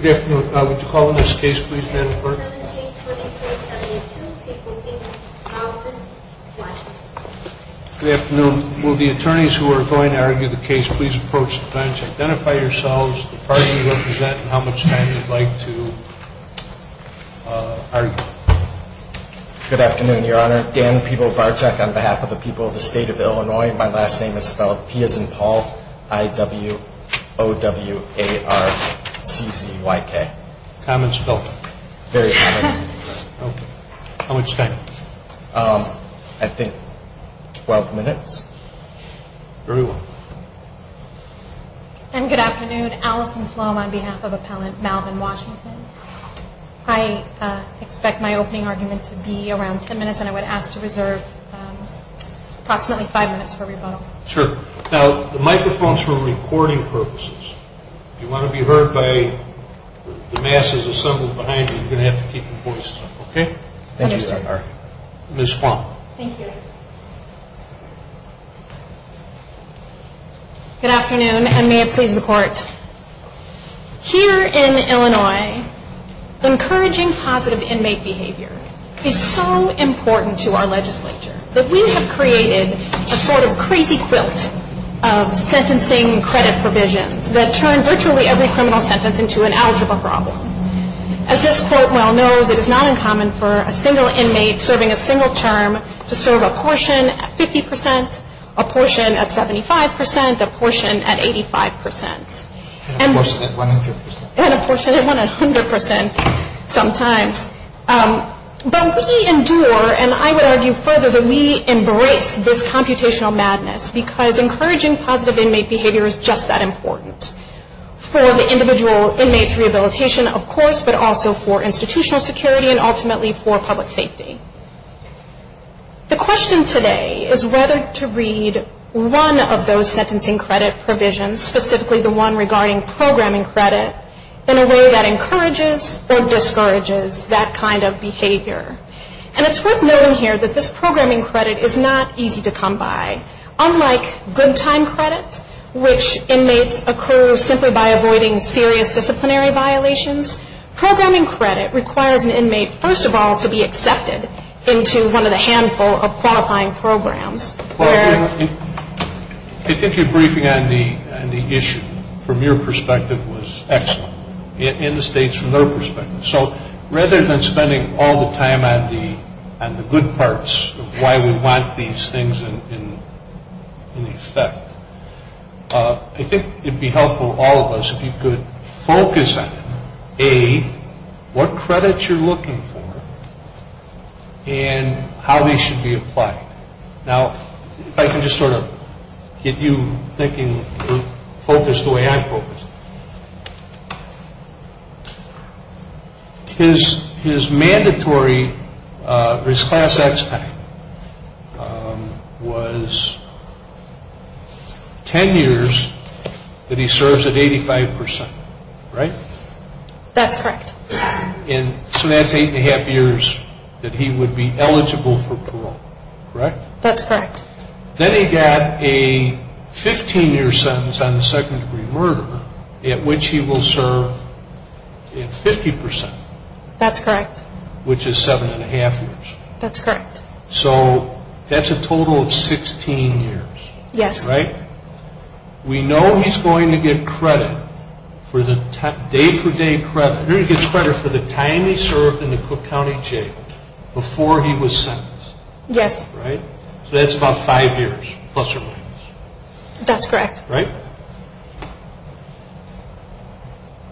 Good afternoon. Would you call on this case, please, Madam Clerk? Good afternoon. Will the attorneys who are going to argue the case please approach the bench. Identify yourselves, the party you represent, and how much time you'd like to argue. Good afternoon, Your Honor. Dan Pivovarczak on behalf of the people of the State of Illinois. My last name is spelled P as in Paul, I-W-O-W-A-R-C-Z-Y-K. How much time? I think 12 minutes. And good afternoon. Alison Flom on behalf of Appellant Malvin Washington. I expect my opening argument to be around 10 minutes, and I would ask to reserve approximately 5 minutes for rebuttal. Sure. Now, the microphones are for recording purposes. If you want to be heard by the masses assembled behind you, you're going to have to keep your voices up. Okay? Understood. Ms. Flom. Thank you. Good afternoon, and may it please the Court. Here in Illinois, encouraging positive inmate behavior is so important to our legislature that we have created a sort of crazy quilt of sentencing credit provisions that turn virtually every criminal sentence into an algebra problem. As this Court well knows, it is not uncommon for a single inmate serving a single term to serve a portion at 50 percent, a portion at 75 percent, a portion at 85 percent. And a portion at 100 percent. And a portion at 100 percent sometimes. But we endure, and I would argue further, that we embrace this computational madness because encouraging positive inmate behavior is just that important for the individual inmate's rehabilitation, of course, but also for institutional security and ultimately for public safety. The question today is whether to read one of those sentencing credit provisions, specifically the one regarding programming credit, in a way that encourages or discourages that kind of behavior. And it's worth noting here that this programming credit is not easy to come by. Unlike good time credit, which inmates occur simply by avoiding serious disciplinary violations, programming credit requires an inmate, first of all, to be accepted into one of the handful of qualifying programs. Well, I think your briefing on the issue from your perspective was excellent, and the State's from their perspective. So rather than spending all the time on the good parts of why we want these things in effect, I think it would be helpful, all of us, if you could focus on, A, what credits you're looking for and how these should be applied. Now, if I can just sort of get you thinking, focused the way I'm focused. His mandatory, his class act time was 10 years that he serves at 85%, right? That's correct. And so that's 8 1⁄2 years that he would be eligible for parole, correct? That's correct. Then he got a 15-year sentence on the second-degree murder, at which he will serve 50%. That's correct. Which is 7 1⁄2 years. That's correct. So that's a total of 16 years. Yes. Right? We know he's going to get credit, day-for-day credit, he's going to get credit for the time he served in the Cook County Jail before he was sentenced. Yes. Right? So that's about five years, plus or minus. That's correct. Right?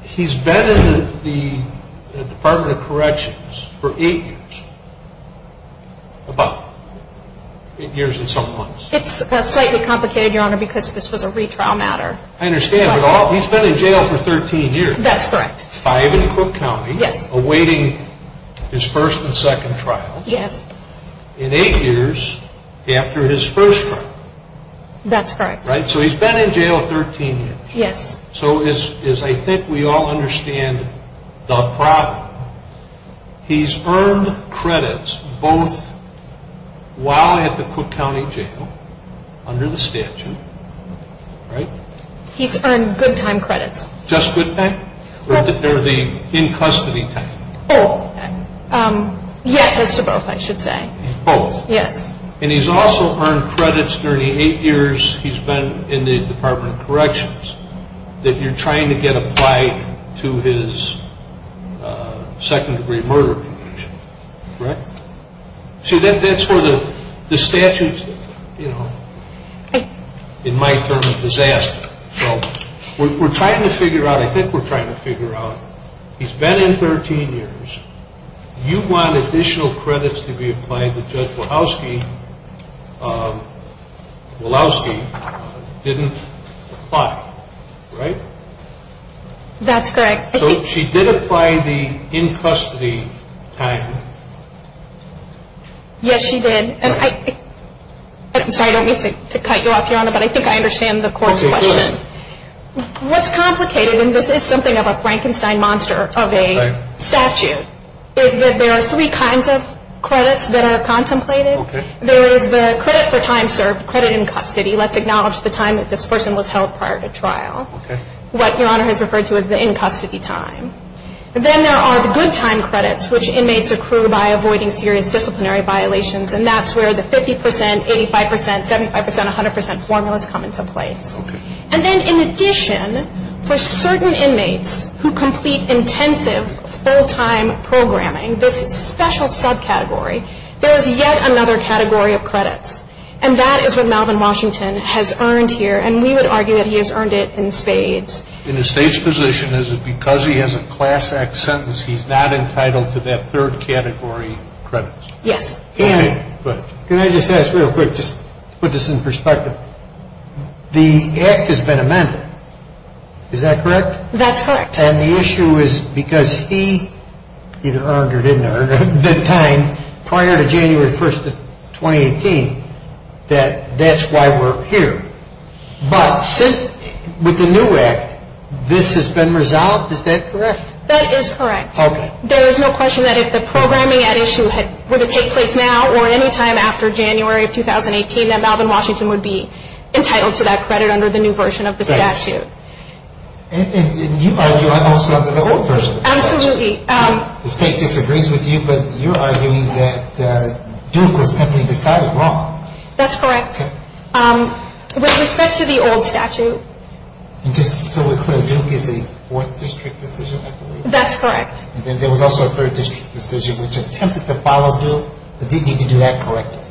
He's been in the Department of Corrections for 8 years. About 8 years and some months. It's slightly complicated, Your Honor, because this was a retrial matter. I understand. But he's been in jail for 13 years. That's correct. Five in Cook County. Yes. Awaiting his first and second trials. Yes. In 8 years after his first trial. That's correct. Right? So he's been in jail 13 years. Yes. So as I think we all understand the problem, he's earned credits both while at the Cook County Jail, under the statute. Right? He's earned good time credits. Just good time? Or the in-custody type? Both. Yes, as to both, I should say. Both. Yes. And he's also earned credits during the 8 years he's been in the Department of Corrections that you're trying to get applied to his second-degree murder conviction. Right? See, that's where the statute's, you know, in my term, a disaster. So we're trying to figure out, I think we're trying to figure out, he's been in 13 years. You want additional credits to be applied to Judge Walowski. Walowski didn't apply. Right? That's correct. So she did apply the in-custody type. Yes, she did. And I'm sorry, I don't mean to cut you off, Your Honor, but I think I understand the court's question. Okay, go ahead. What's complicated, and this is something of a Frankenstein monster of a statute, is that there are three kinds of credits that are contemplated. There is the credit for time served, credit in custody. Let's acknowledge the time that this person was held prior to trial. What Your Honor has referred to as the in-custody time. Then there are the good time credits, which inmates accrue by avoiding serious disciplinary violations, and that's where the 50 percent, 85 percent, 75 percent, 100 percent formulas come into place. Okay. And then in addition, for certain inmates who complete intensive full-time programming, this special subcategory, there is yet another category of credits, and that is what Malvin Washington has earned here, and we would argue that he has earned it in spades. In the State's position, is it because he has a Class Act sentence, he's not entitled to that third category of credits? Yes. Can I just ask real quick, just to put this in perspective. The Act has been amended, is that correct? That's correct. And the issue is because he either earned or didn't earn that time prior to January 1st of 2018, that that's why we're here. But since, with the new Act, this has been resolved, is that correct? That is correct. Okay. There is no question that if the programming at issue were to take place now or any time after January of 2018, that Malvin Washington would be entitled to that credit under the new version of the statute. And you argue also under the old version of the statute. Absolutely. The State disagrees with you, but you're arguing that Duke was simply decided wrong. That's correct. Okay. With respect to the old statute. Just so we're clear, Duke is a Fourth District decision, I believe. That's correct. And then there was also a Third District decision, which attempted to follow Duke, but didn't even do that correctly.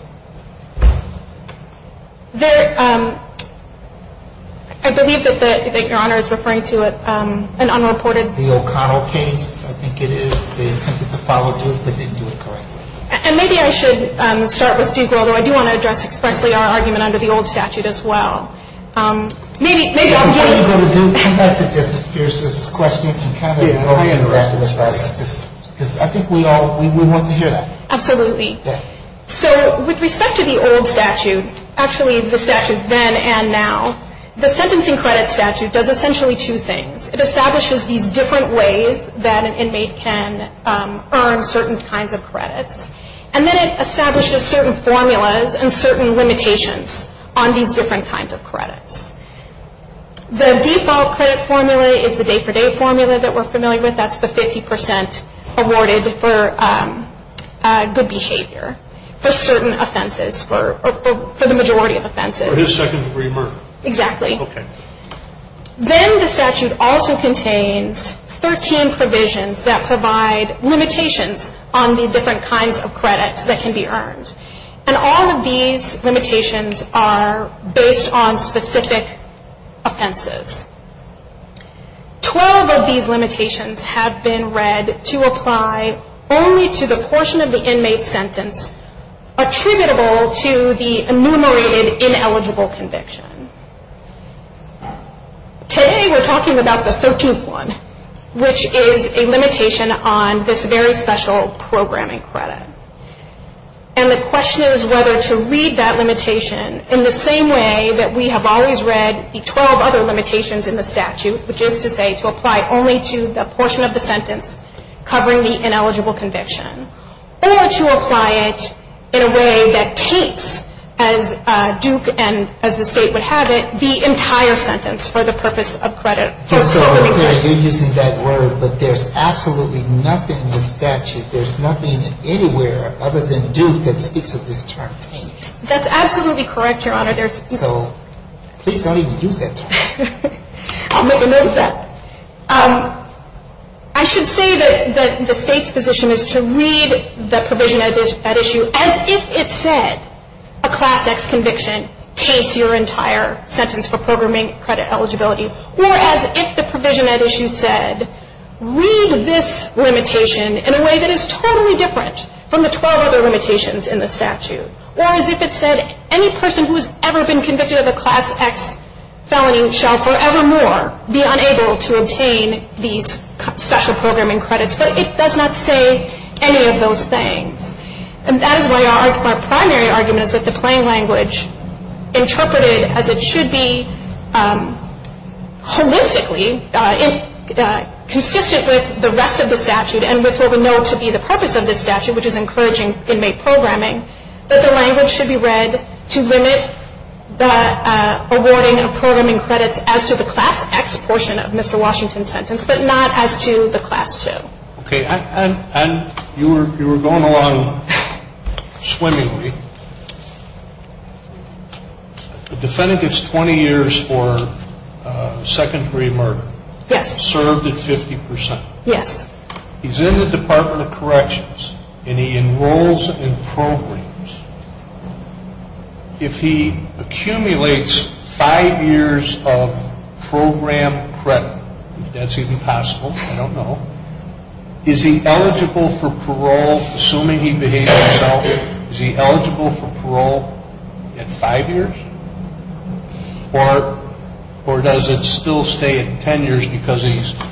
I believe that Your Honor is referring to an unreported. The O'Connell case, I think it is. They attempted to follow Duke, but didn't do it correctly. And maybe I should start with Duke, although I do want to address expressly our argument under the old statute as well. Before you go to Duke, I would like to address Justice Pierce's question and kind of go over the record with us. Because I think we all want to hear that. Absolutely. So with respect to the old statute, actually the statute then and now, the sentencing credit statute does essentially two things. It establishes these different ways that an inmate can earn certain kinds of credits. And then it establishes certain formulas and certain limitations on these different kinds of credits. The default credit formula is the day-for-day formula that we're familiar with. That's the 50 percent awarded for good behavior for certain offenses, for the majority of offenses. For his second-degree murder. Exactly. Okay. Then the statute also contains 13 provisions that provide limitations on the different kinds of credits that can be earned. And all of these limitations are based on specific offenses. Twelve of these limitations have been read to apply only to the portion of the inmate's sentence attributable to the enumerated ineligible conviction. Today we're talking about the 13th one, which is a limitation on this very special programming credit. And the question is whether to read that limitation in the same way that we have always read the 12 other limitations in the statute, which is to say to apply only to the portion of the sentence covering the ineligible conviction. Or to apply it in a way that taints, as Duke and as the State would have it, the entire sentence for the purpose of credit. Just so we're clear, you're using that word, but there's absolutely nothing in the statute, there's nothing anywhere other than Duke that speaks of this term taint. That's absolutely correct, Your Honor. So please don't even use that term. I'll make a note of that. I should say that the State's position is to read the provision at issue as if it said, a Class X conviction taints your entire sentence for programming credit eligibility. Or as if the provision at issue said, read this limitation in a way that is totally different from the 12 other limitations in the statute. Or as if it said, any person who has ever been convicted of a Class X felony shall forevermore be unable to obtain these special programming credits. But it does not say any of those things. And that is why our primary argument is that the plain language interpreted as it should be holistically consistent with the rest of the statute and with what we know to be the purpose of this statute, which is encouraging inmate programming, that the language should be read to limit the awarding of programming credits as to the Class X portion of Mr. Washington's sentence, but not as to the Class II. Okay. And you were going along swimmingly. The defendant gets 20 years for secondary murder. Yes. Served at 50%. Yes. He's in the Department of Corrections and he enrolls in programs. If he accumulates five years of program credit, if that's even possible, I don't know, is he eligible for parole, assuming he behaves himself, is he eligible for parole at five years? Or does it still stay at 10 years because the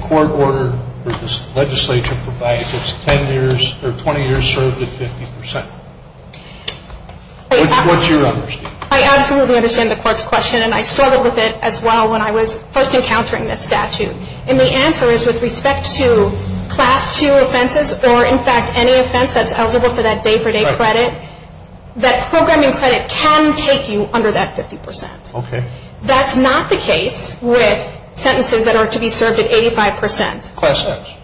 court order for this legislature provides it's 10 years or 20 years served at 50%? What's your understanding? I absolutely understand the court's question and I struggled with it as well when I was first encountering this statute. And the answer is with respect to Class II offenses or in fact any offense that's eligible for that day-for-day credit, that programming credit can take you under that 50%. Okay. That's not the case with sentences that are to be served at 85%. Class X.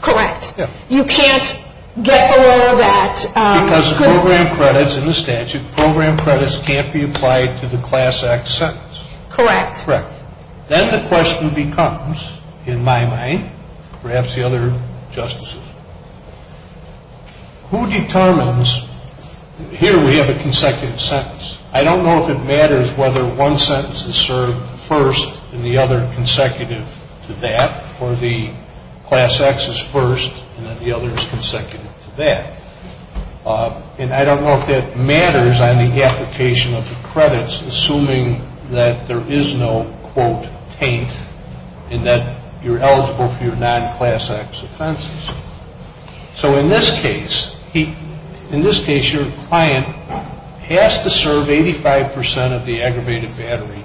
Correct. Yeah. You can't get below that. Because the program credits in the statute, program credits can't be applied to the Class X sentence. Correct. Correct. Then the question becomes, in my mind, perhaps the other justices, who determines, here we have a consecutive sentence. I don't know if it matters whether one sentence is served first and the other consecutive to that, or the Class X is first and then the other is consecutive to that. And I don't know if that matters on the application of the credits, assuming that there is no, quote, taint and that you're eligible for your non-Class X offenses. So in this case, your client has to serve 85% of the aggravated battery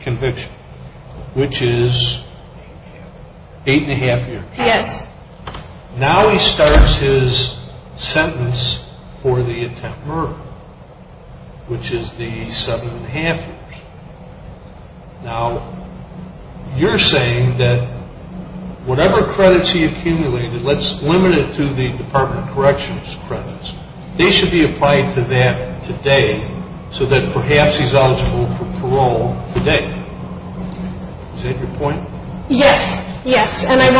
conviction. Correct. Which is eight and a half years. Yes. Now he starts his sentence for the attempt murder, which is the seven and a half years. Now, you're saying that whatever credits he accumulated, let's limit it to the Department of Corrections credits. They should be applied to that today so that perhaps he's eligible for parole today. Is that your point? Yes. Yes. And I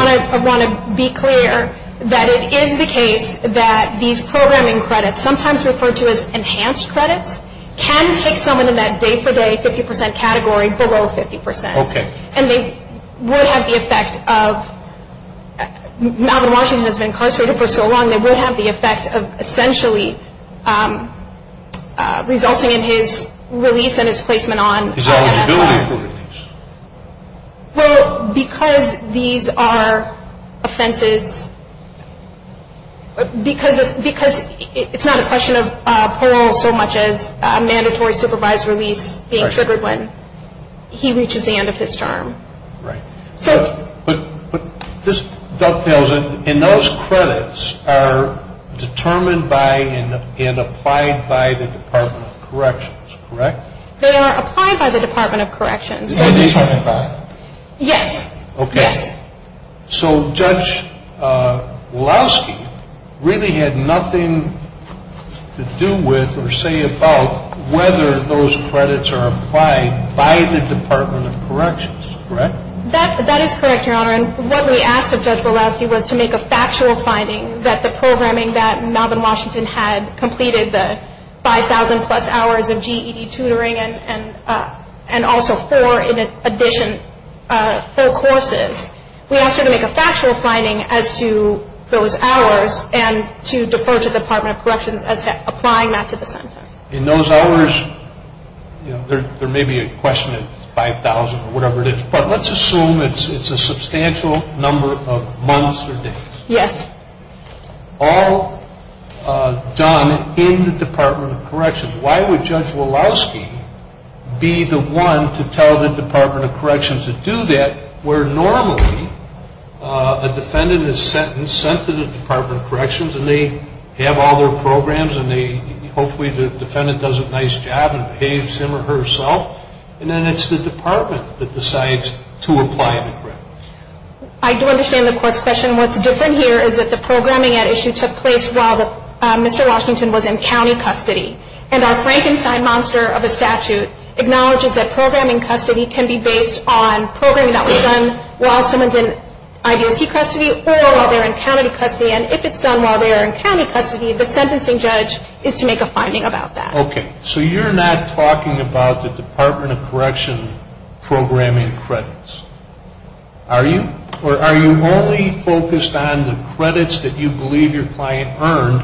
want to be clear that it is the case that these programming credits, sometimes referred to as enhanced credits, can take someone in that day-for-day 50% category below 50%. Okay. And they would have the effect of, now that Washington has been incarcerated for so long, they would have the effect of essentially resulting in his release and his placement on MSI. His eligibility for release. Well, because these are offenses, because it's not a question of parole so much as a mandatory supervised release being triggered when he reaches the end of his term. Right. But this dovetails in those credits are determined by and applied by the Department of Corrections, correct? They are applied by the Department of Corrections. They are determined by. Yes. Okay. Yes. So Judge Walowski really had nothing to do with or say about whether those credits are applied by the Department of Corrections, correct? That is correct, Your Honor. And what we asked of Judge Walowski was to make a factual finding that the programming that Melbourne, Washington had completed the 5,000 plus hours of GED tutoring and also four in addition, four courses. We asked her to make a factual finding as to those hours and to defer to the Department of Corrections as to applying that to the sentence. In those hours, there may be a question at 5,000 or whatever it is, but let's assume it's a substantial number of months or days. Yes. All done in the Department of Corrections. Why would Judge Walowski be the one to tell the Department of Corrections to do that where normally a defendant is sent to the Department of Corrections and they have all their programs and hopefully the defendant does a nice job and behaves him or herself and then it's the department that decides to apply the credits. I do understand the court's question. What's different here is that the programming at issue took place while Mr. Washington was in county custody. And our Frankenstein monster of a statute acknowledges that programming custody can be based on programming that was done while someone's in I.D.C. custody or while they're in county custody. And if it's done while they're in county custody, the sentencing judge is to make a finding about that. Okay. So you're not talking about the Department of Corrections programming credits, are you? Or are you only focused on the credits that you believe your client earned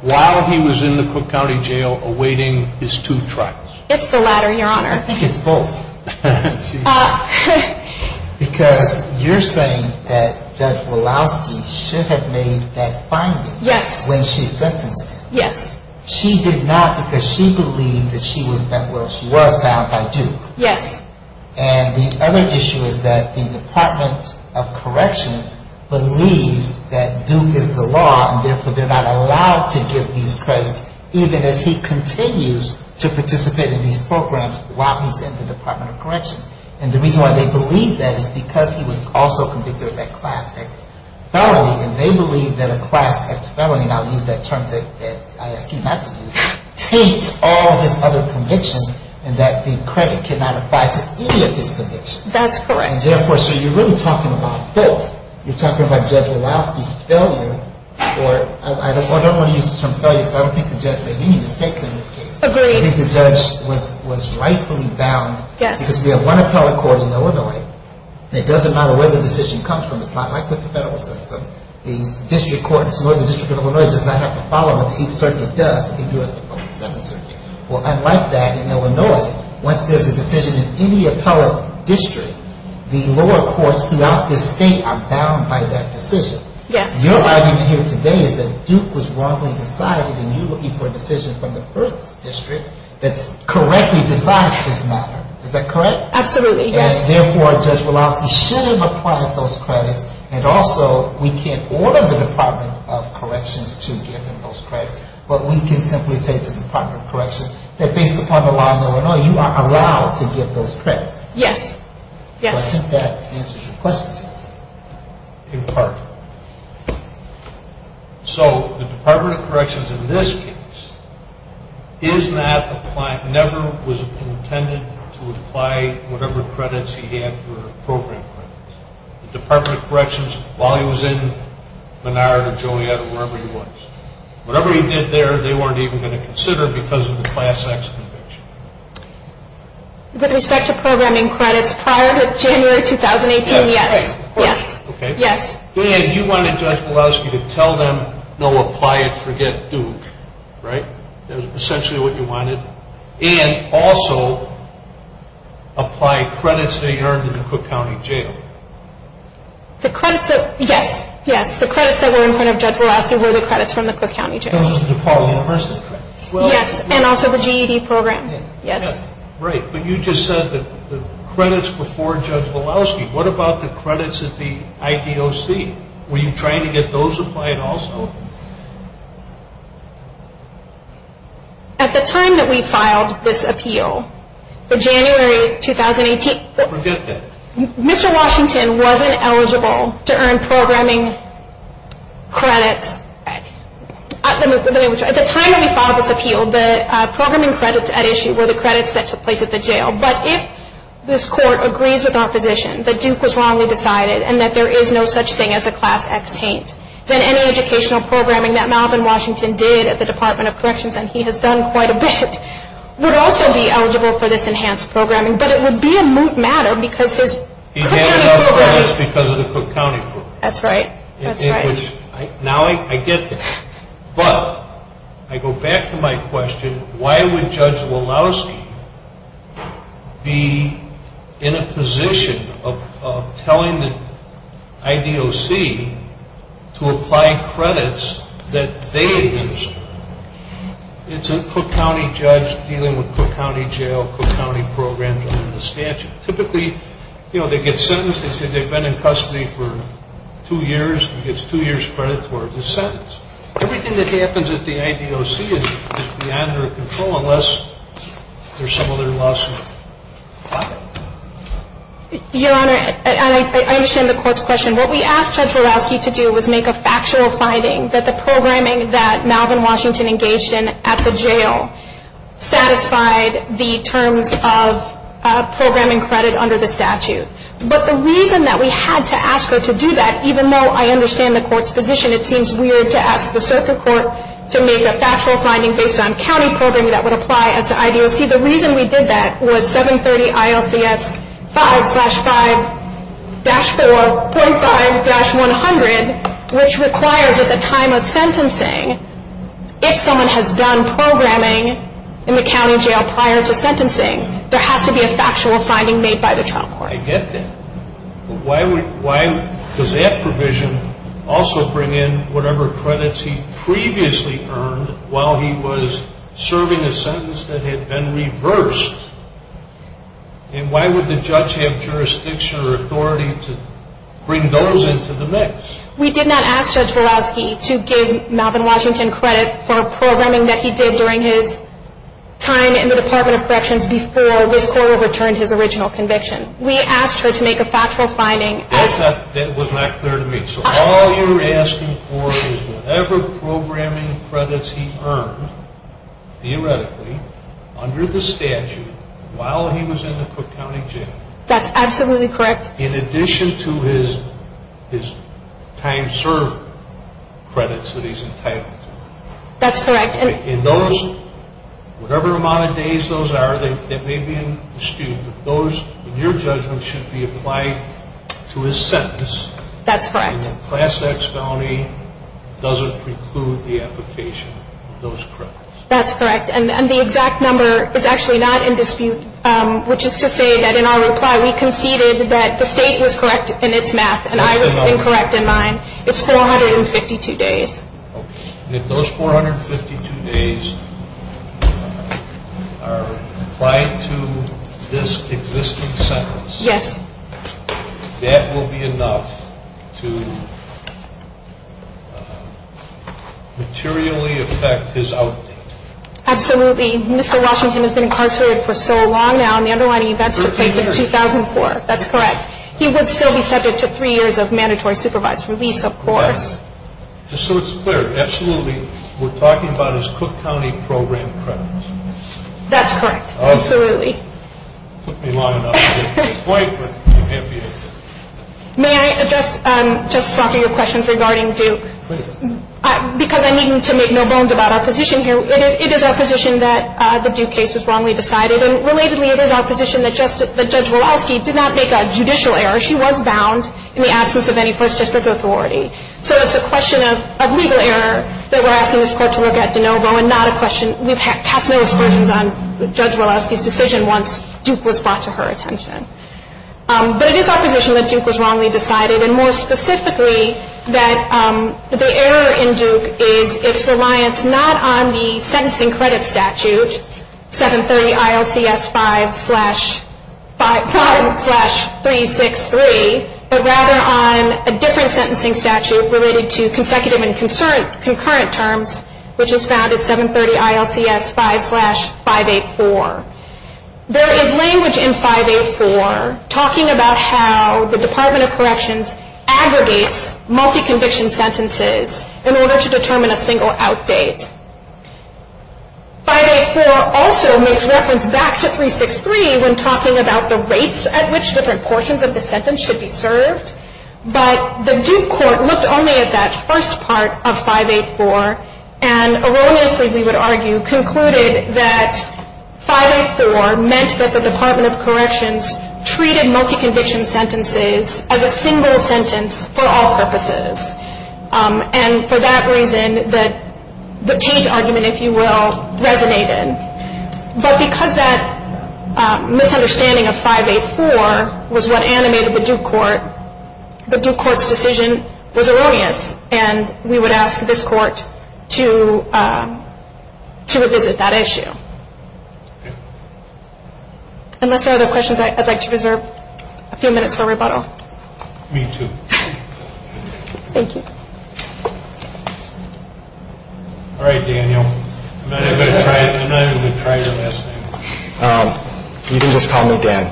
while he was in the Cook County Jail awaiting his two trials? It's the latter, Your Honor. I think it's both. Because you're saying that Judge Walowski should have made that finding when she sentenced him. Yes. She did not because she believed that she was found by Duke. Yes. And the other issue is that the Department of Corrections believes that Duke is the law and therefore they're not allowed to give these credits even as he continues to participate in these programs while he's in the Department of Corrections. And the reason why they believe that is because he was also convicted of that Class X felony. And they believe that a Class X felony, and I'll use that term that I ask you not to use, taints all his other convictions and that the credit cannot apply to any of his convictions. That's correct. And therefore, so you're really talking about both. You're talking about Judge Walowski's failure or I don't want to use the term failure because I don't think the judge made any mistakes in this case. Agreed. I think the judge was rightfully bound. Yes. Because we have one appellate court in Illinois and it doesn't matter where the decision comes from. It's not like with the federal system. The district court, the District of Illinois does not have to follow them. The Eighth Circuit does, but they do it on the Seventh Circuit. Well, unlike that, in Illinois, once there's a decision in any appellate district, the lower courts throughout the state are bound by that decision. Yes. Your argument here today is that Duke was wrongly decided and you're looking for a decision from the First District that correctly decides this matter. Is that correct? Absolutely, yes. Therefore, Judge Walowski should have applied those credits and also we can't order the Department of Corrections to give him those credits, but we can simply say to the Department of Corrections that based upon the law in Illinois, you are allowed to give those credits. Yes. Yes. I think that answers your question, Justice. In part. So the Department of Corrections in this case is not applying, he never was intended to apply whatever credits he had for program credits. The Department of Corrections, while he was in Menard or Joliet or wherever he was, whatever he did there, they weren't even going to consider because of the Class X conviction. With respect to programming credits, prior to January 2018, yes. Yes. Okay. Yes. You wanted Judge Walowski to tell them, no, apply it, forget Duke, right? That was essentially what you wanted. And also apply credits that he earned in the Cook County Jail. The credits that, yes, yes, the credits that were in front of Judge Walowski were the credits from the Cook County Jail. Those were the Department of Corrections? Yes, and also the GED program, yes. Great. But you just said that the credits before Judge Walowski, what about the credits at the IPOC? Were you trying to get those applied also? At the time that we filed this appeal, the January 2018 – Forget that. Mr. Washington wasn't eligible to earn programming credits. At the time that we filed this appeal, the programming credits at issue were the credits that took place at the jail. But if this Court agrees with our position that Duke was wrongly decided and that there is no such thing as a Class X taint, then any educational programming that Malcolm Washington did at the Department of Corrections, and he has done quite a bit, would also be eligible for this enhanced programming. But it would be a moot matter because his – He gave it up for this because of the Cook County Court. That's right. That's right. Now I get that. But I go back to my question, why would Judge Walowski be in a position of telling the IDOC to apply credits that they administered? It's a Cook County judge dealing with Cook County Jail, Cook County programs under the statute. Typically, you know, they get sentenced. They say they've been in custody for two years. He gets two years credit for the sentence. Everything that happens at the IDOC is beyond their control unless there's some other lawsuit. Your Honor, I understand the Court's question. What we asked Judge Walowski to do was make a factual finding that the programming that Malcolm Washington engaged in at the jail satisfied the terms of programming credit under the statute. But the reason that we had to ask her to do that, even though I understand the Court's position, it seems weird to ask the Circuit Court to make a factual finding based on county programming that would apply as to IDOC. The reason we did that was 730 ILCS 5-5-4.5-100, which requires at the time of sentencing, if someone has done programming in the county jail prior to sentencing, there has to be a factual finding made by the trial court. I get that. But why does that provision also bring in whatever credits he previously earned while he was serving a sentence that had been reversed? And why would the judge have jurisdiction or authority to bring those into the mix? We did not ask Judge Walowski to give Malcolm Washington credit for programming that he did during his time in the Department of Corrections before this Court overturned his original conviction. We asked her to make a factual finding. That was not clear to me. So all you're asking for is whatever programming credits he earned, theoretically, under the statute while he was in the Cook County jail. That's absolutely correct. In addition to his time served credits that he's entitled to. That's correct. In those, whatever amount of days those are, they may be in dispute, but those, in your judgment, should be applied to his sentence. That's correct. Class X felony doesn't preclude the application of those credits. That's correct. And the exact number is actually not in dispute, which is to say that in our reply we conceded that the state was correct in its math, and I was incorrect in mine. It's 452 days. If those 452 days are applied to this existing sentence, that will be enough to materially affect his outdate. Absolutely. Mr. Washington has been incarcerated for so long now, and the underlying events took place in 2004. That's correct. He would still be subject to three years of mandatory supervised release, of course. Just so it's clear, absolutely, we're talking about his Cook County program credits. That's correct. Absolutely. Took me long enough to get to this point, but I'm happy to. May I address, Justice Walker, your questions regarding Duke? Please. Because I needn't to make no bones about our position here. It is our position that the Duke case was wrongly decided, and relatedly it is our position that Judge Walowski did not make a judicial error. She was bound in the absence of any first district authority. So it's a question of legal error that we're asking this Court to look at de novo and not a question we've cast no aspersions on Judge Walowski's decision once Duke was brought to her attention. But it is our position that Duke was wrongly decided, and more specifically that the error in Duke is its reliance not on the sentencing credit statute, 730 ILCS 5-363, but rather on a different sentencing statute related to consecutive and concurrent terms, which is found at 730 ILCS 5-584. There is language in 584 talking about how the Department of Corrections aggregates multi-conviction sentences in order to determine a single out date. 584 also makes reference back to 363 when talking about the rates at which different portions of the sentence should be served. But the Duke Court looked only at that first part of 584 and erroneously, we would argue, concluded that 584 meant that the Department of Corrections treated multi-conviction sentences as a single sentence for all purposes. And for that reason, the Tate argument, if you will, resonated. But because that misunderstanding of 584 was what animated the Duke Court, the Duke Court's decision was erroneous, and we would ask this court to revisit that issue. Unless there are other questions, I'd like to reserve a few minutes for rebuttal. Me too. Thank you. All right, Daniel. You can just call me Dan.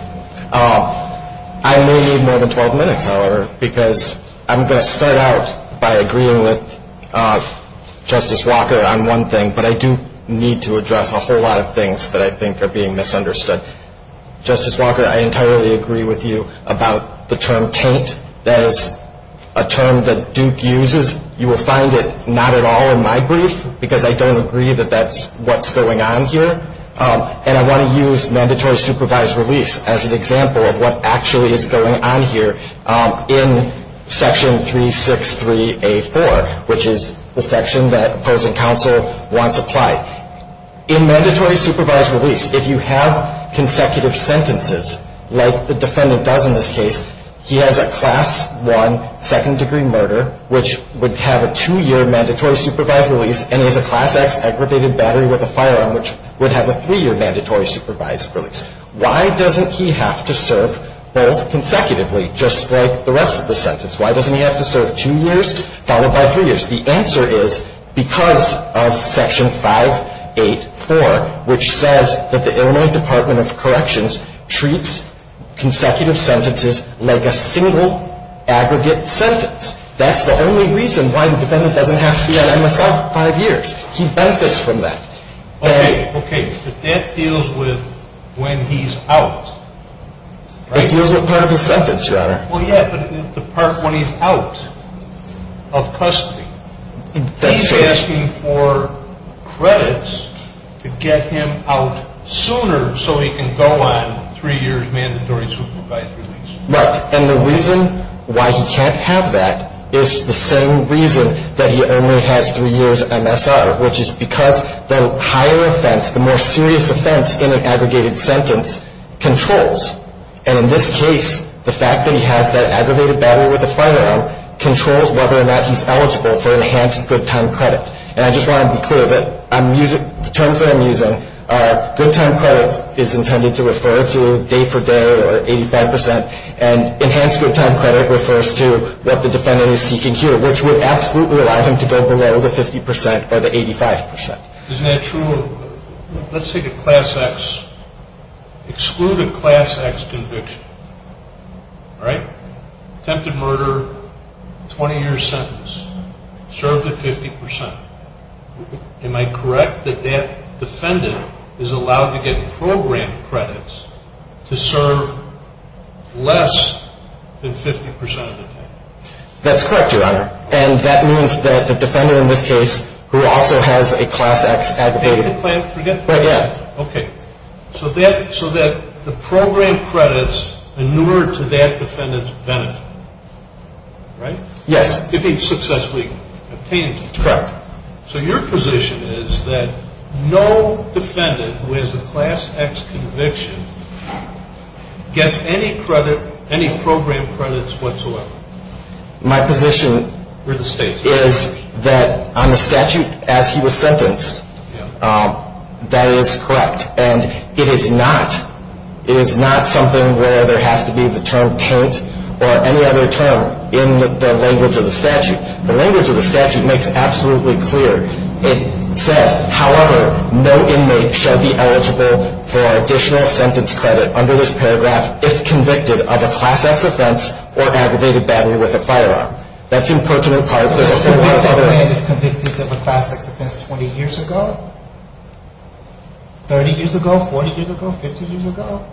I may need more than 12 minutes, however, because I'm going to start out by agreeing with Justice Walker on one thing, but I do need to address a whole lot of things that I think are being misunderstood. Justice Walker, I entirely agree with you about the term Tate. That is a term that Duke uses. You will find it not at all in my brief because I don't agree that that's what's going on here. And I want to use mandatory supervised release as an example of what actually is going on here in Section 363A4, which is the section that opposing counsel wants applied. In mandatory supervised release, if you have consecutive sentences, like the defendant does in this case, he has a Class I second-degree murder, which would have a two-year mandatory supervised release, and he has a Class X aggravated battery with a firearm, which would have a three-year mandatory supervised release. Why doesn't he have to serve both consecutively just like the rest of the sentence? Why doesn't he have to serve two years followed by three years? The answer is because of Section 584, which says that the Illinois Department of Corrections treats consecutive sentences like a single aggregate sentence. That's the only reason why the defendant doesn't have to be on MSI for five years. He benefits from that. Okay. Okay. But that deals with when he's out. It deals with part of his sentence, Your Honor. Well, yeah, but the part when he's out of custody. That's right. He's asking for credits to get him out sooner so he can go on three years mandatory supervised release. Right. And the reason why he can't have that is the same reason that he only has three years MSR, which is because the higher offense, the more serious offense in an aggregated sentence controls. And in this case, the fact that he has that aggregated battery with a firearm controls whether or not he's eligible for enhanced good time credit. And I just want to be clear that the terms that I'm using are good time credit is intended to refer to day for day or 85 percent, and enhanced good time credit refers to what the defendant is seeking here, which would absolutely allow him to go below the 50 percent or the 85 percent. Isn't that true? Let's take a class X. Exclude a class X conviction. All right? Attempted murder, 20-year sentence, served at 50 percent. Am I correct that that defendant is allowed to get program credits to serve less than 50 percent of the time? That's correct, Your Honor. And that means that the defendant in this case who also has a class X aggravated. Forget the class X. Right, yeah. Okay. So that the program credits inured to that defendant's benefit, right? Yes. If he successfully obtains it. Correct. So your position is that no defendant who has a class X conviction gets any credit, any program credits whatsoever? My position is that on the statute as he was sentenced, that is correct, and it is not something where there has to be the term taint or any other term in the language of the statute. The language of the statute makes absolutely clear. It says, however, no inmate shall be eligible for additional sentence credit under this paragraph if convicted of a class X offense or aggravated battery with a firearm. That's important in part because there's a whole lot of other. If convicted of a class X offense 20 years ago, 30 years ago, 40 years ago, 50 years ago?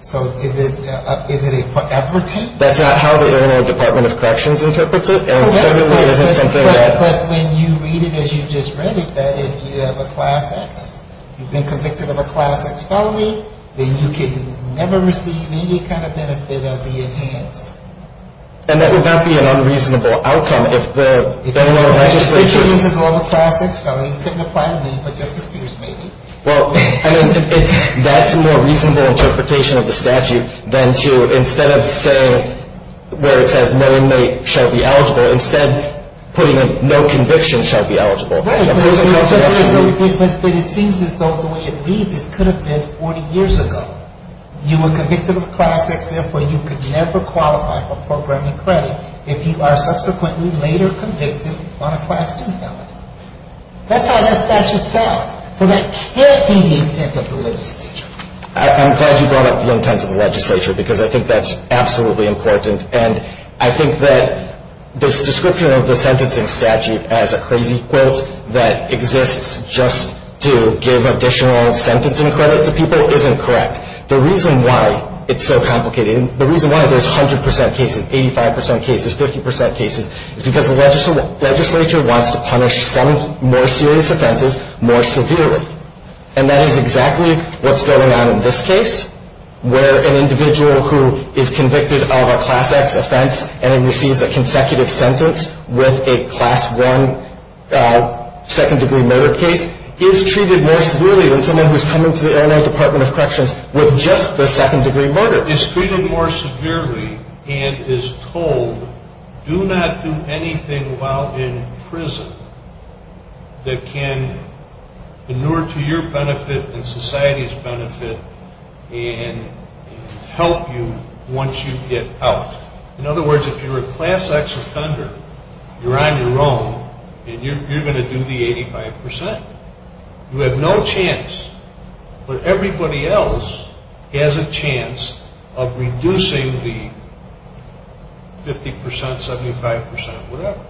So is it a forever taint? That's not how the Illinois Department of Corrections interprets it. And certainly it isn't something that. But when you read it as you just read it, that if you have a class X, you've been convicted of a class X felony, then you can never receive any kind of benefit of the enhanced. And that would not be an unreasonable outcome if the Illinois legislature. If the legislature uses all the class X felony, you couldn't apply to me, but Justice Peters may be. Well, I mean, that's a more reasonable interpretation of the statute than to instead of saying where it says no inmate shall be eligible, instead putting a no conviction shall be eligible. Right. But it seems as though the way it reads, it could have been 40 years ago. You were convicted of a class X, therefore you could never qualify for programming credit if you are subsequently later convicted on a class 2 felony. That's how that statute sounds. So that can't be the intent of the legislature. I'm glad you brought up the intent of the legislature because I think that's absolutely important. And I think that this description of the sentencing statute as a crazy quote that exists just to give additional sentencing credit to people isn't correct. The reason why it's so complicated, the reason why there's 100% cases, 85% cases, 50% cases, is because the legislature wants to punish some more serious offenses more severely. And that is exactly what's going on in this case, where an individual who is convicted of a class X offense and then receives a consecutive sentence with a class 1 second-degree murder case is treated more severely than someone who is coming to the Illinois Department of Corrections with just the second-degree murder. Is treated more severely and is told do not do anything while in prison that can inure to your benefit and society's benefit and help you once you get out. In other words, if you're a class X offender, you're on your own and you're going to do the 85%. You have no chance, but everybody else has a chance of reducing the 50%, 75%, whatever.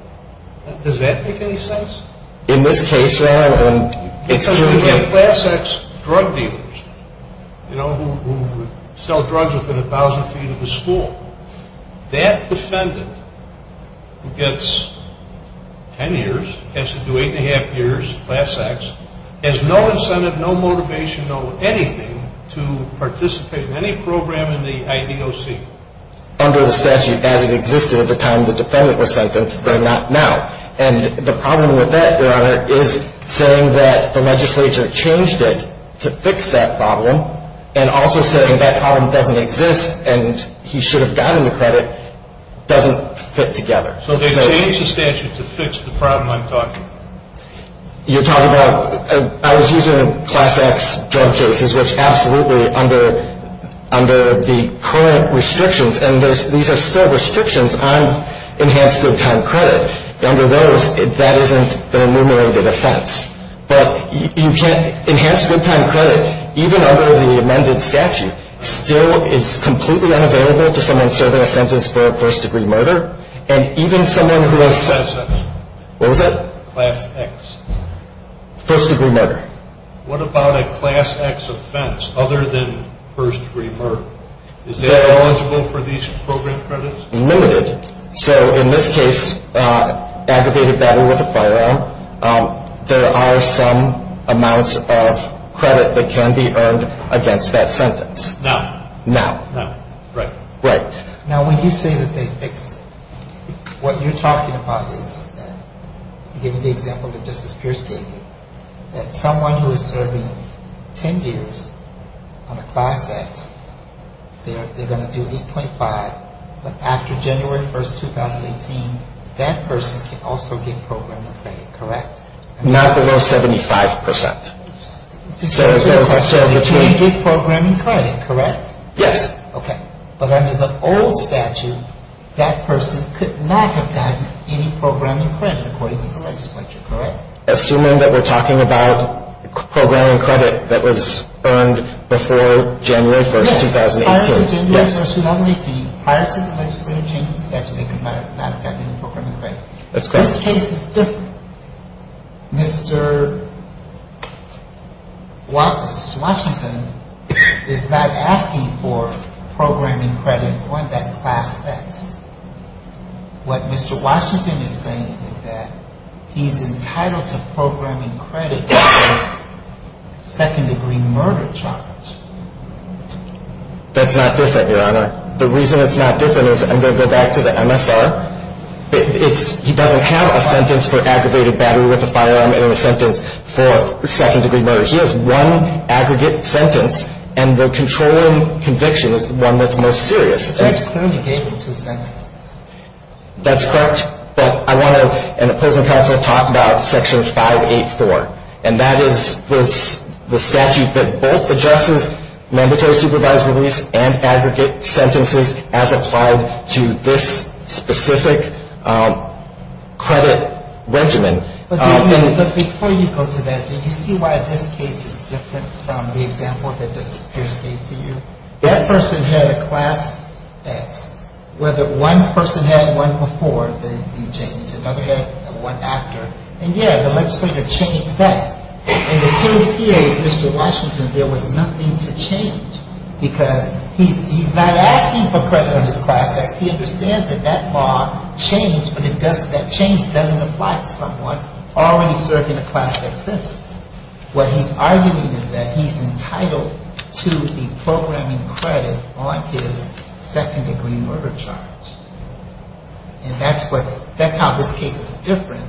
Does that make any sense? In this case, it's true again. Class X drug dealers who sell drugs within 1,000 feet of the school, that defendant who gets 10 years has to do 8.5 years class X, has no incentive, no motivation, no anything to participate in any program in the IDOC. Under the statute as it existed at the time the defendant was sentenced, but not now. And the problem with that, Your Honor, is saying that the legislature changed it to fix that problem and also saying that problem doesn't exist and he should have gotten the credit doesn't fit together. So they changed the statute to fix the problem I'm talking about? You're talking about, I was using class X drug cases, which absolutely under the current restrictions, and these are still restrictions on enhanced good time credit. Under those, that isn't an enumerated offense. But enhanced good time credit, even under the amended statute, still is completely unavailable to someone serving a sentence for a first-degree murder. And even someone who has, what was that? Class X. First-degree murder. What about a class X offense other than first-degree murder? Is that eligible for these program credits? Limited. So in this case, aggregated battle with a firearm, there are some amounts of credit that can be earned against that sentence. Now. Now. Now. Right. Right. Now when you say that they fixed it, what you're talking about is, given the example that Justice Pierce gave you, that someone who is serving 10 years on a class X, they're going to do 8.5, but after January 1st, 2018, that person can also get programming credit, correct? Not below 75%. So they can get programming credit, correct? Yes. Okay. But under the old statute, that person could not have gotten any programming credit, according to the legislature, correct? Assuming that we're talking about programming credit that was earned before January 1st, 2018. Yes. Prior to January 1st, 2018, prior to the legislature changing the statute, they could not have gotten any programming credit. That's correct. This case is different. Mr. Washington is not asking for programming credit for that class X. What Mr. Washington is saying is that he's entitled to programming credit for his second-degree murder charge. That's not different, Your Honor. The reason it's not different is, I'm going to go back to the MSR, he doesn't have a sentence for aggravated battery with a firearm and a sentence for second-degree murder. He has one aggregate sentence, and the controlling conviction is the one that's most serious. That's clearly gave him two sentences. That's correct. But I want to, and the opposing counsel talked about Section 584, and that is the statute that both adjusts mandatory supervised release and aggregate sentences as applied to this specific credit regimen. But before you go to that, do you see why this case is different from the example that Justice Pierce gave to you? That person had a class X. Whether one person had one before the change, another had one after. And, yeah, the legislature changed that. In the case here, Mr. Washington, there was nothing to change because he's not asking for credit on his class X. He understands that that law changed, but that change doesn't apply to someone already serving a class X sentence. What he's arguing is that he's entitled to the programming credit on his second-degree murder charge. And that's how this case is different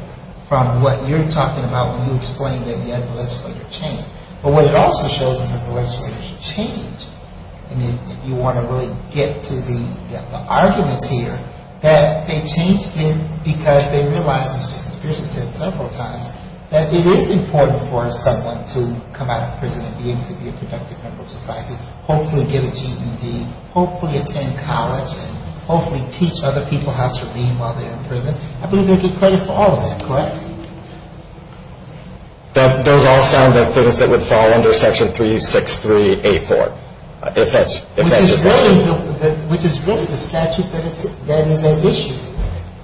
from what you're talking about when you explain that the legislature changed. But what it also shows is that the legislature changed. I mean, if you want to really get to the arguments here, that they changed it because they realized, as Justice Pierce has said several times, that it is important for someone to come out of prison and be able to be a productive member of society, hopefully get a GED, hopefully attend college, and hopefully teach other people how to read while they're in prison. I believe they get credit for all of that, correct? Those all sound like things that would fall under Section 363A4, if that's your question. Which is really the statute that is at issue.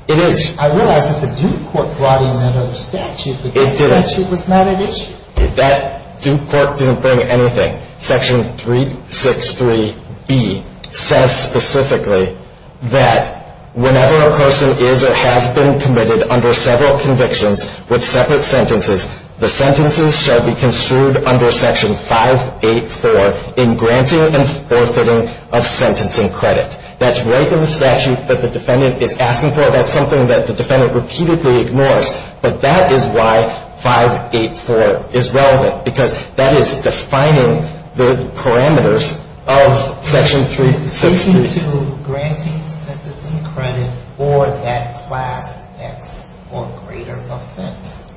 It is. I realize that the Duke Court brought in another statute, but that statute was not at issue. That Duke Court didn't bring anything. Section 363B says specifically that whenever a person is or has been committed under several convictions with separate sentences, the sentences shall be construed under Section 584 in granting and forfeiting of sentencing credit. That's right in the statute that the defendant is asking for. That's something that the defendant repeatedly ignores, but that is why 584 is relevant, because that is defining the parameters of Section 363. It's speaking to granting sentencing credit for that Class X or greater offense.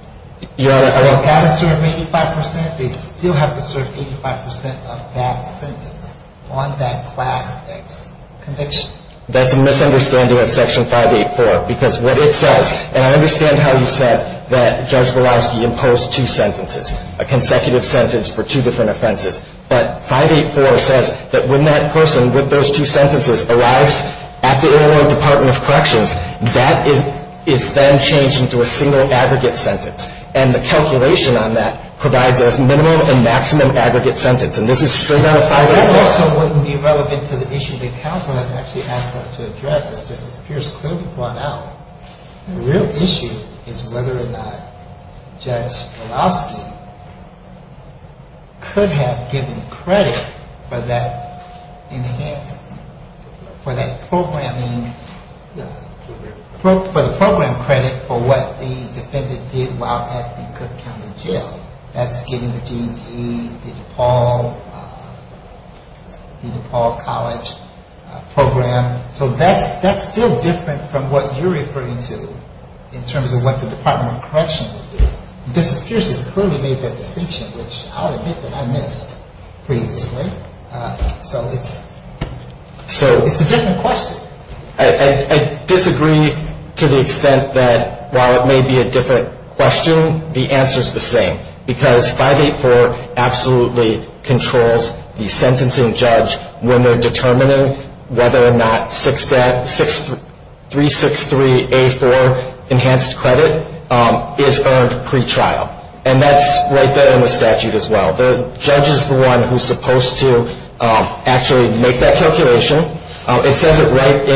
They've got to serve 85 percent. They still have to serve 85 percent of that sentence on that Class X conviction. That's a misunderstanding of Section 584, because what it says, and I understand how you said that Judge Walowski imposed two sentences, a consecutive sentence for two different offenses. But 584 says that when that person with those two sentences arrives at the Illinois Department of Corrections, that is then changed into a single aggregate sentence. And the calculation on that provides us minimum and maximum aggregate sentence. And this is straight out of 584. That also wouldn't be relevant to the issue that counsel has actually asked us to address. This just appears clearly brought out. The real issue is whether or not Judge Walowski could have given credit for that enhancement, for that programming, for the program credit for what the defendant did while at the Cook County Jail. That's getting the GED, the DePaul College program. So that's still different from what you're referring to in terms of what the Department of Corrections will do. It just appears it's clearly made that distinction, which I'll admit that I missed previously. So it's a different question. I disagree to the extent that while it may be a different question, the answer is the same. Because 584 absolutely controls the sentencing judge when they're determining whether or not 363A4 enhanced credit is earned pretrial. And that's right there in the statute as well. The judge is the one who's supposed to actually make that calculation. It says it right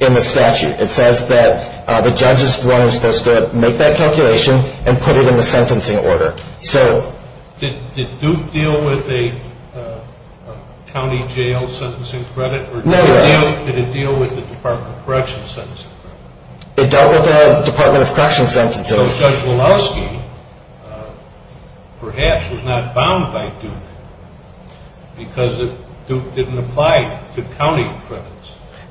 in the statute. It says that the judge is the one who's supposed to make that calculation and put it in the sentencing order. So did Duke deal with a county jail sentencing credit? No, Your Honor. Or did it deal with the Department of Corrections sentencing? It dealt with the Department of Corrections sentencing. So Judge Walowski perhaps was not bound by Duke because Duke didn't apply to county credits.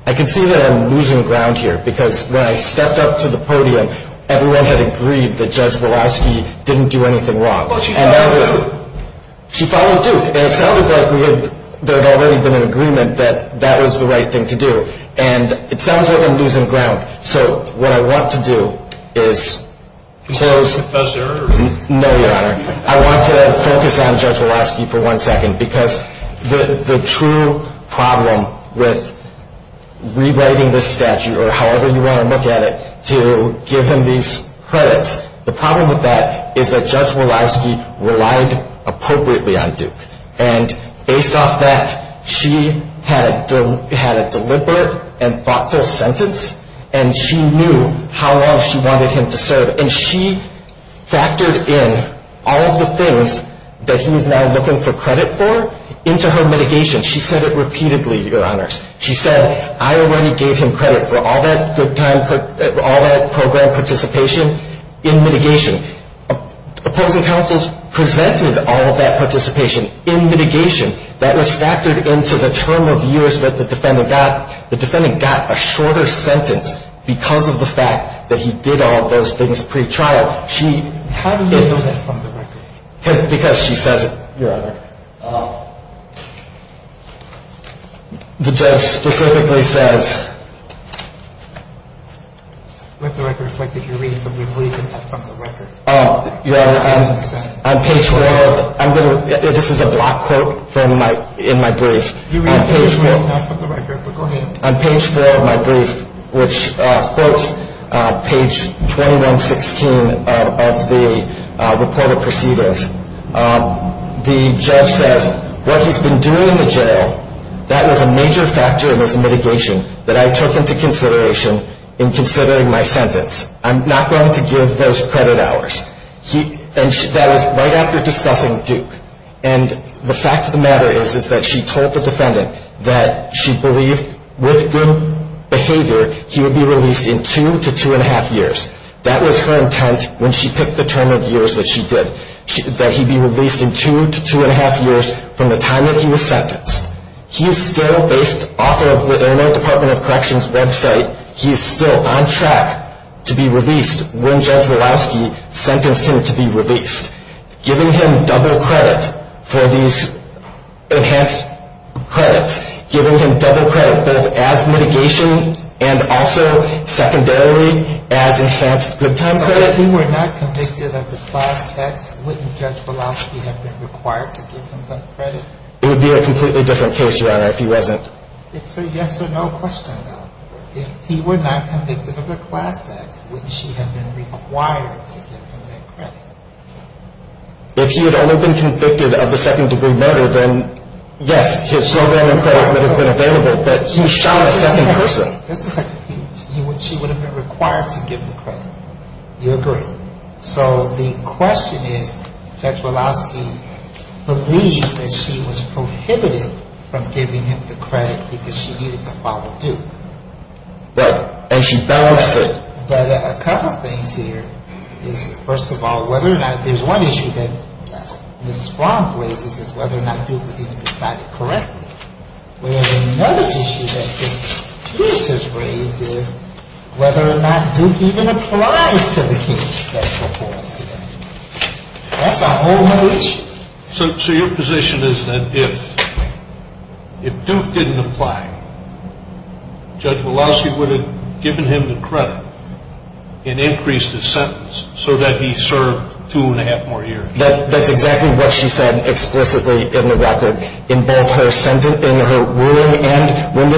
I can see that I'm losing ground here because when I stepped up to the podium, everyone had agreed that Judge Walowski didn't do anything wrong. Well, she followed Duke. She followed Duke. And it sounded like there had already been an agreement that that was the right thing to do. And it sounds like I'm losing ground. So what I want to do is close. Professor? No, Your Honor. I want to focus on Judge Walowski for one second because the true problem with rewriting this statute or however you want to look at it to give him these credits, the problem with that is that Judge Walowski relied appropriately on Duke. And based off that, she had a deliberate and thoughtful sentence, and she knew how long she wanted him to serve. And she factored in all of the things that he is now looking for credit for into her mitigation. She said it repeatedly, Your Honors. She said, I already gave him credit for all that program participation in mitigation. Opposing counsels presented all of that participation in mitigation. That was factored into the term of years that the defendant got. The defendant got a shorter sentence because of the fact that he did all of those things pretrial. How do you know that from the record? Because she says it. Your Honor. The judge specifically says. Let the record reflect that you're reading from the brief and not from the record. Your Honor, on page 4, this is a block quote in my brief. You read page 4, not from the record, but go ahead. On page 4 of my brief, which quotes page 2116 of the reported proceedings, the judge says what he's been doing in the jail, that was a major factor in his mitigation. That I took into consideration in considering my sentence. I'm not going to give those credit hours. That was right after discussing Duke. And the fact of the matter is that she told the defendant that she believed with good behavior, he would be released in two to two-and-a-half years. That was her intent when she picked the term of years that she did. That he'd be released in two to two-and-a-half years from the time that he was sentenced. He's still, based off of the Internet Department of Corrections website, he's still on track to be released when Judge Walowski sentenced him to be released. Giving him double credit for these enhanced credits, giving him double credit both as mitigation and also secondarily as enhanced good time credit. So if he were not convicted of the class X, wouldn't Judge Walowski have been required to give him that credit? It would be a completely different case, Your Honor, if he wasn't. It's a yes or no question, though. If he were not convicted of the class X, wouldn't she have been required to give him that credit? If he had only been convicted of the second-degree murder, then yes, his programming credit would have been available, but he shot a second person. Just a second. She would have been required to give him the credit. You agree. So the question is, Judge Walowski believed that she was prohibited from giving him the credit because she needed to follow Duke. Right. And she balanced it. But a couple things here is, first of all, whether or not there's one issue that Ms. Fromm raises is whether or not Duke was even decided correctly. Where the other issue that Ms. Pierce has raised is whether or not Duke even applies to the case that before us today. That's a whole other issue. So your position is that if Duke didn't apply, Judge Walowski would have given him the credit and increased his sentence so that he served two and a half more years. That's exactly what she said explicitly in the record in both her ruling and when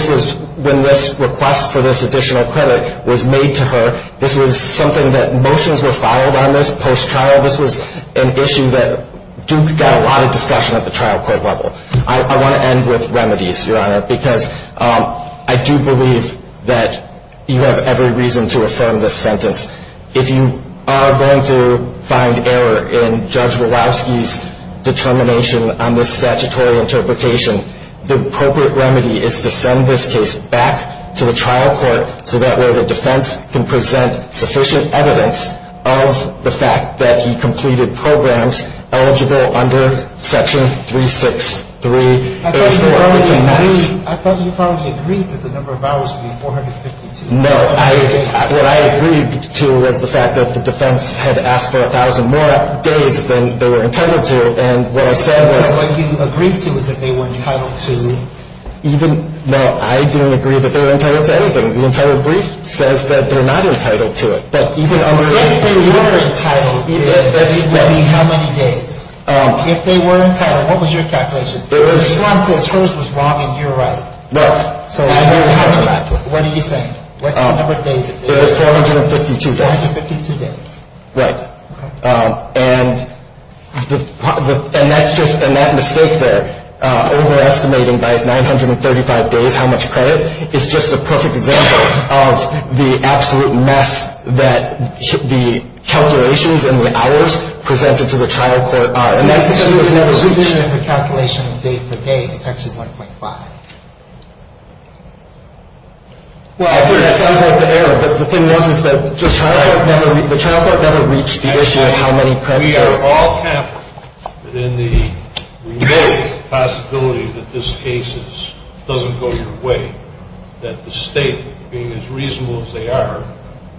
this request for this additional credit was made to her. This was something that motions were filed on this post-trial. This was an issue that Duke got a lot of discussion at the trial court level. I want to end with remedies, Your Honor, because I do believe that you have every reason to affirm this sentence. If you are going to find error in Judge Walowski's determination on this statutory interpretation, the appropriate remedy is to send this case back to the trial court so that way the defense can present sufficient evidence of the fact that he completed programs eligible under Section 36334. I thought you probably agreed that the number of hours would be 452. No, what I agreed to was the fact that the defense had asked for 1,000 more days than they were entitled to. And what I said was – So what you agreed to was that they were entitled to – Even – no, I didn't agree that they were entitled to anything. The entitled brief says that they're not entitled to it. But even under – If they were entitled, it would be how many days? If they were entitled, what was your calculation? It was – If someone says hers was wrong and you're right. No. So what are you saying? What's the number of days? It was 452 days. 452 days. Right. Okay. And that's just – and that mistake there, overestimating by 935 days how much credit, is just a perfect example of the absolute mess that the calculations and the hours presented to the trial court are. And that's because it was never reached. What you're doing is a calculation of day for day. It's actually 1.5. Well, I agree. That sounds like the error. But the thing was is that the trial court never reached the issue of how many credit hours. We are all confident that in the remote possibility that this case doesn't go your way, that the state, being as reasonable as they are,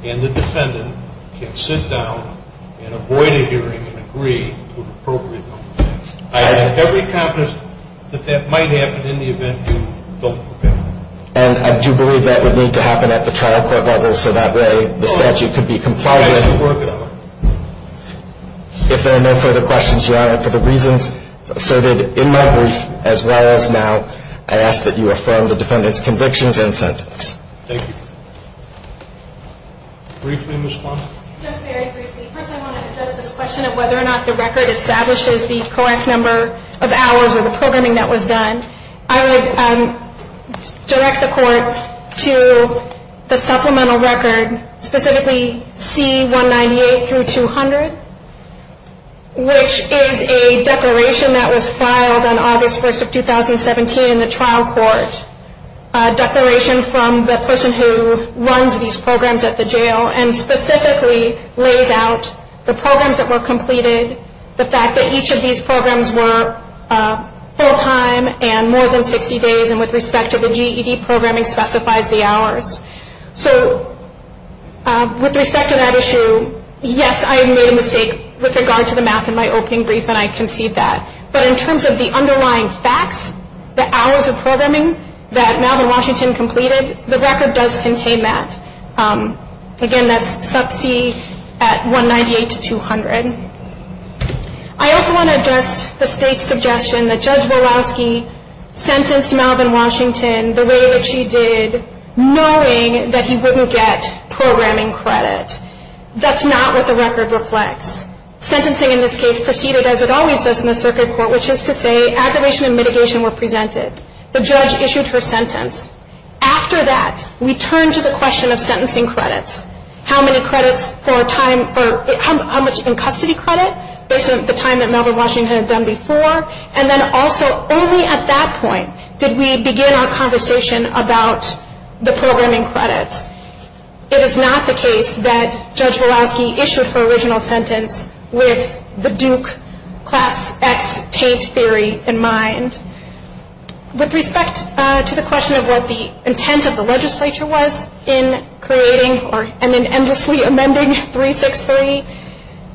and the defendant, can sit down and avoid a hearing and agree to an appropriate number of days. I have every confidence that that might happen in the event you don't prevail. And I do believe that would need to happen at the trial court level so that way the statute could be complied with. That's the work of it. If there are no further questions, Your Honor, for the reasons asserted in my brief as well as now, I ask that you affirm the defendant's convictions and sentence. Thank you. Briefly, Ms. Kwan. Just very briefly. First, I want to address this question of whether or not the record establishes the correct number of hours or the programming that was done. I would direct the court to the supplemental record, specifically C198 through 200, which is a declaration that was filed on August 1st of 2017 in the trial court, a declaration from the person who runs these programs at the jail and specifically lays out the programs that were completed, the fact that each of these programs were full-time and more than 60 days, and with respect to the GED programming specifies the hours. So with respect to that issue, yes, I made a mistake with regard to the math in my opening brief, and I concede that. But in terms of the underlying facts, the hours of programming that Malvin Washington completed, the record does contain that. Again, that's sub C at 198 to 200. I also want to address the State's suggestion that Judge Walowski sentenced Malvin Washington the way that she did, knowing that he wouldn't get programming credit. That's not what the record reflects. Sentencing in this case proceeded as it always does in the circuit court, which is to say aggravation and mitigation were presented. The judge issued her sentence. After that, we turned to the question of sentencing credits, how much in custody credit, based on the time that Malvin Washington had done before, and then also only at that point did we begin our conversation about the programming credits. It is not the case that Judge Walowski issued her original sentence with the Duke Class X Tate theory in mind. With respect to the question of what the intent of the legislature was in creating or in endlessly amending 363,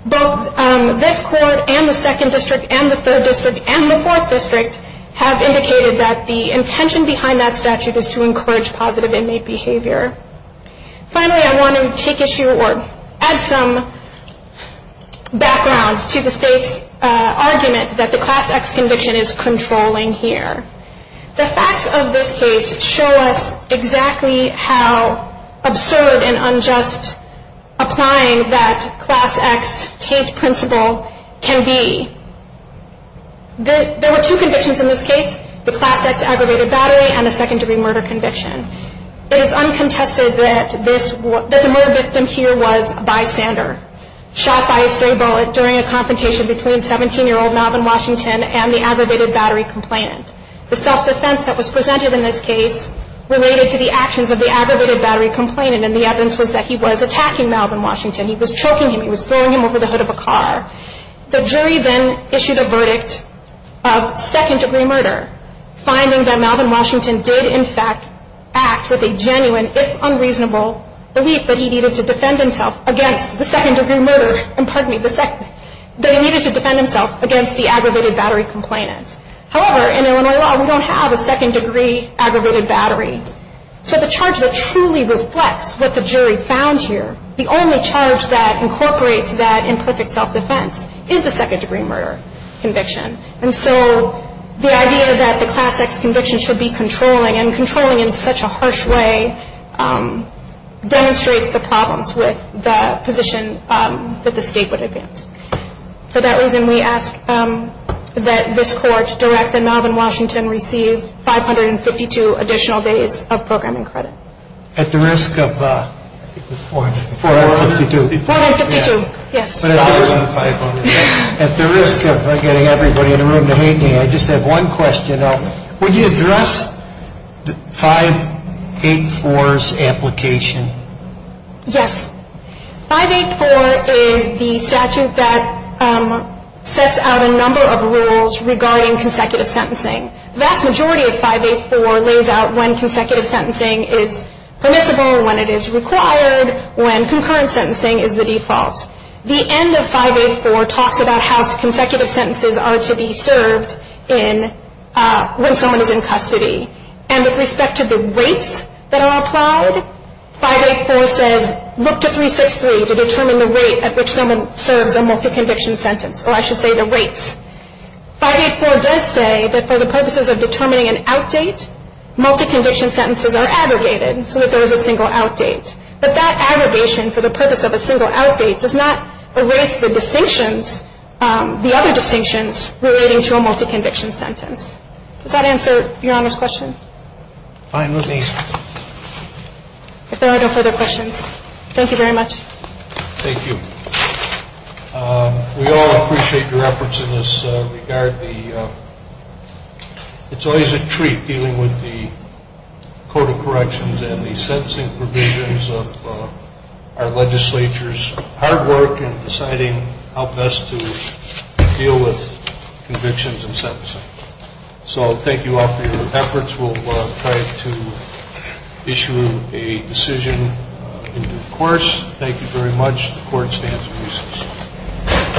both this court and the Second District and the Third District and the Fourth District have indicated that the intention behind that statute is to encourage positive inmate behavior. Finally, I want to take issue or add some background to the State's argument that the Class X conviction is controlling here. The facts of this case show us exactly how absurd and unjust applying that Class X Tate principle can be. There were two convictions in this case, the Class X aggravated battery and the second degree murder conviction. It is uncontested that the murder victim here was a bystander, shot by a stray bullet during a confrontation between 17-year-old Malvin Washington and the aggravated battery complainant. The self-defense that was presented in this case related to the actions of the aggravated battery complainant, and the evidence was that he was attacking Malvin Washington. He was choking him. He was throwing him over the hood of a car. The jury then issued a verdict of second degree murder, finding that Malvin Washington did in fact act with a genuine, if unreasonable, belief that he needed to defend himself against the aggravated battery complainant. However, in Illinois law, we don't have a second degree aggravated battery. So the charge that truly reflects what the jury found here, the only charge that incorporates that imperfect self-defense, is the second degree murder conviction. And so the idea that the Class X conviction should be controlling, and controlling in such a harsh way, demonstrates the problems with the position that the state would advance. For that reason, we ask that this court direct that Malvin Washington receive 552 additional days of programming credit. At the risk of, I think it's 452. 452, yes. At the risk of getting everybody in the room to hate me, I just have one question. Would you address 584's application? Yes. 584 is the statute that sets out a number of rules regarding consecutive sentencing. The vast majority of 584 lays out when consecutive sentencing is permissible, when it is required, when concurrent sentencing is the default. The end of 584 talks about how consecutive sentences are to be served when someone is in custody. And with respect to the rates that are applied, 584 says, look to 363 to determine the rate at which someone serves a multi-conviction sentence. Or I should say the rates. 584 does say that for the purposes of determining an outdate, multi-conviction sentences are aggregated so that there is a single outdate. But that aggregation for the purpose of a single outdate does not erase the distinctions, the other distinctions relating to a multi-conviction sentence. Does that answer Your Honor's question? Fine. Let me see. If there are no further questions. Thank you very much. Thank you. We all appreciate your efforts in this regard. It's always a treat dealing with the Code of Corrections and the sentencing provisions of our legislature's hard work in deciding how best to deal with convictions and sentencing. So thank you all for your efforts. We'll try to issue a decision in due course. Thank you very much. The Court stands in recess.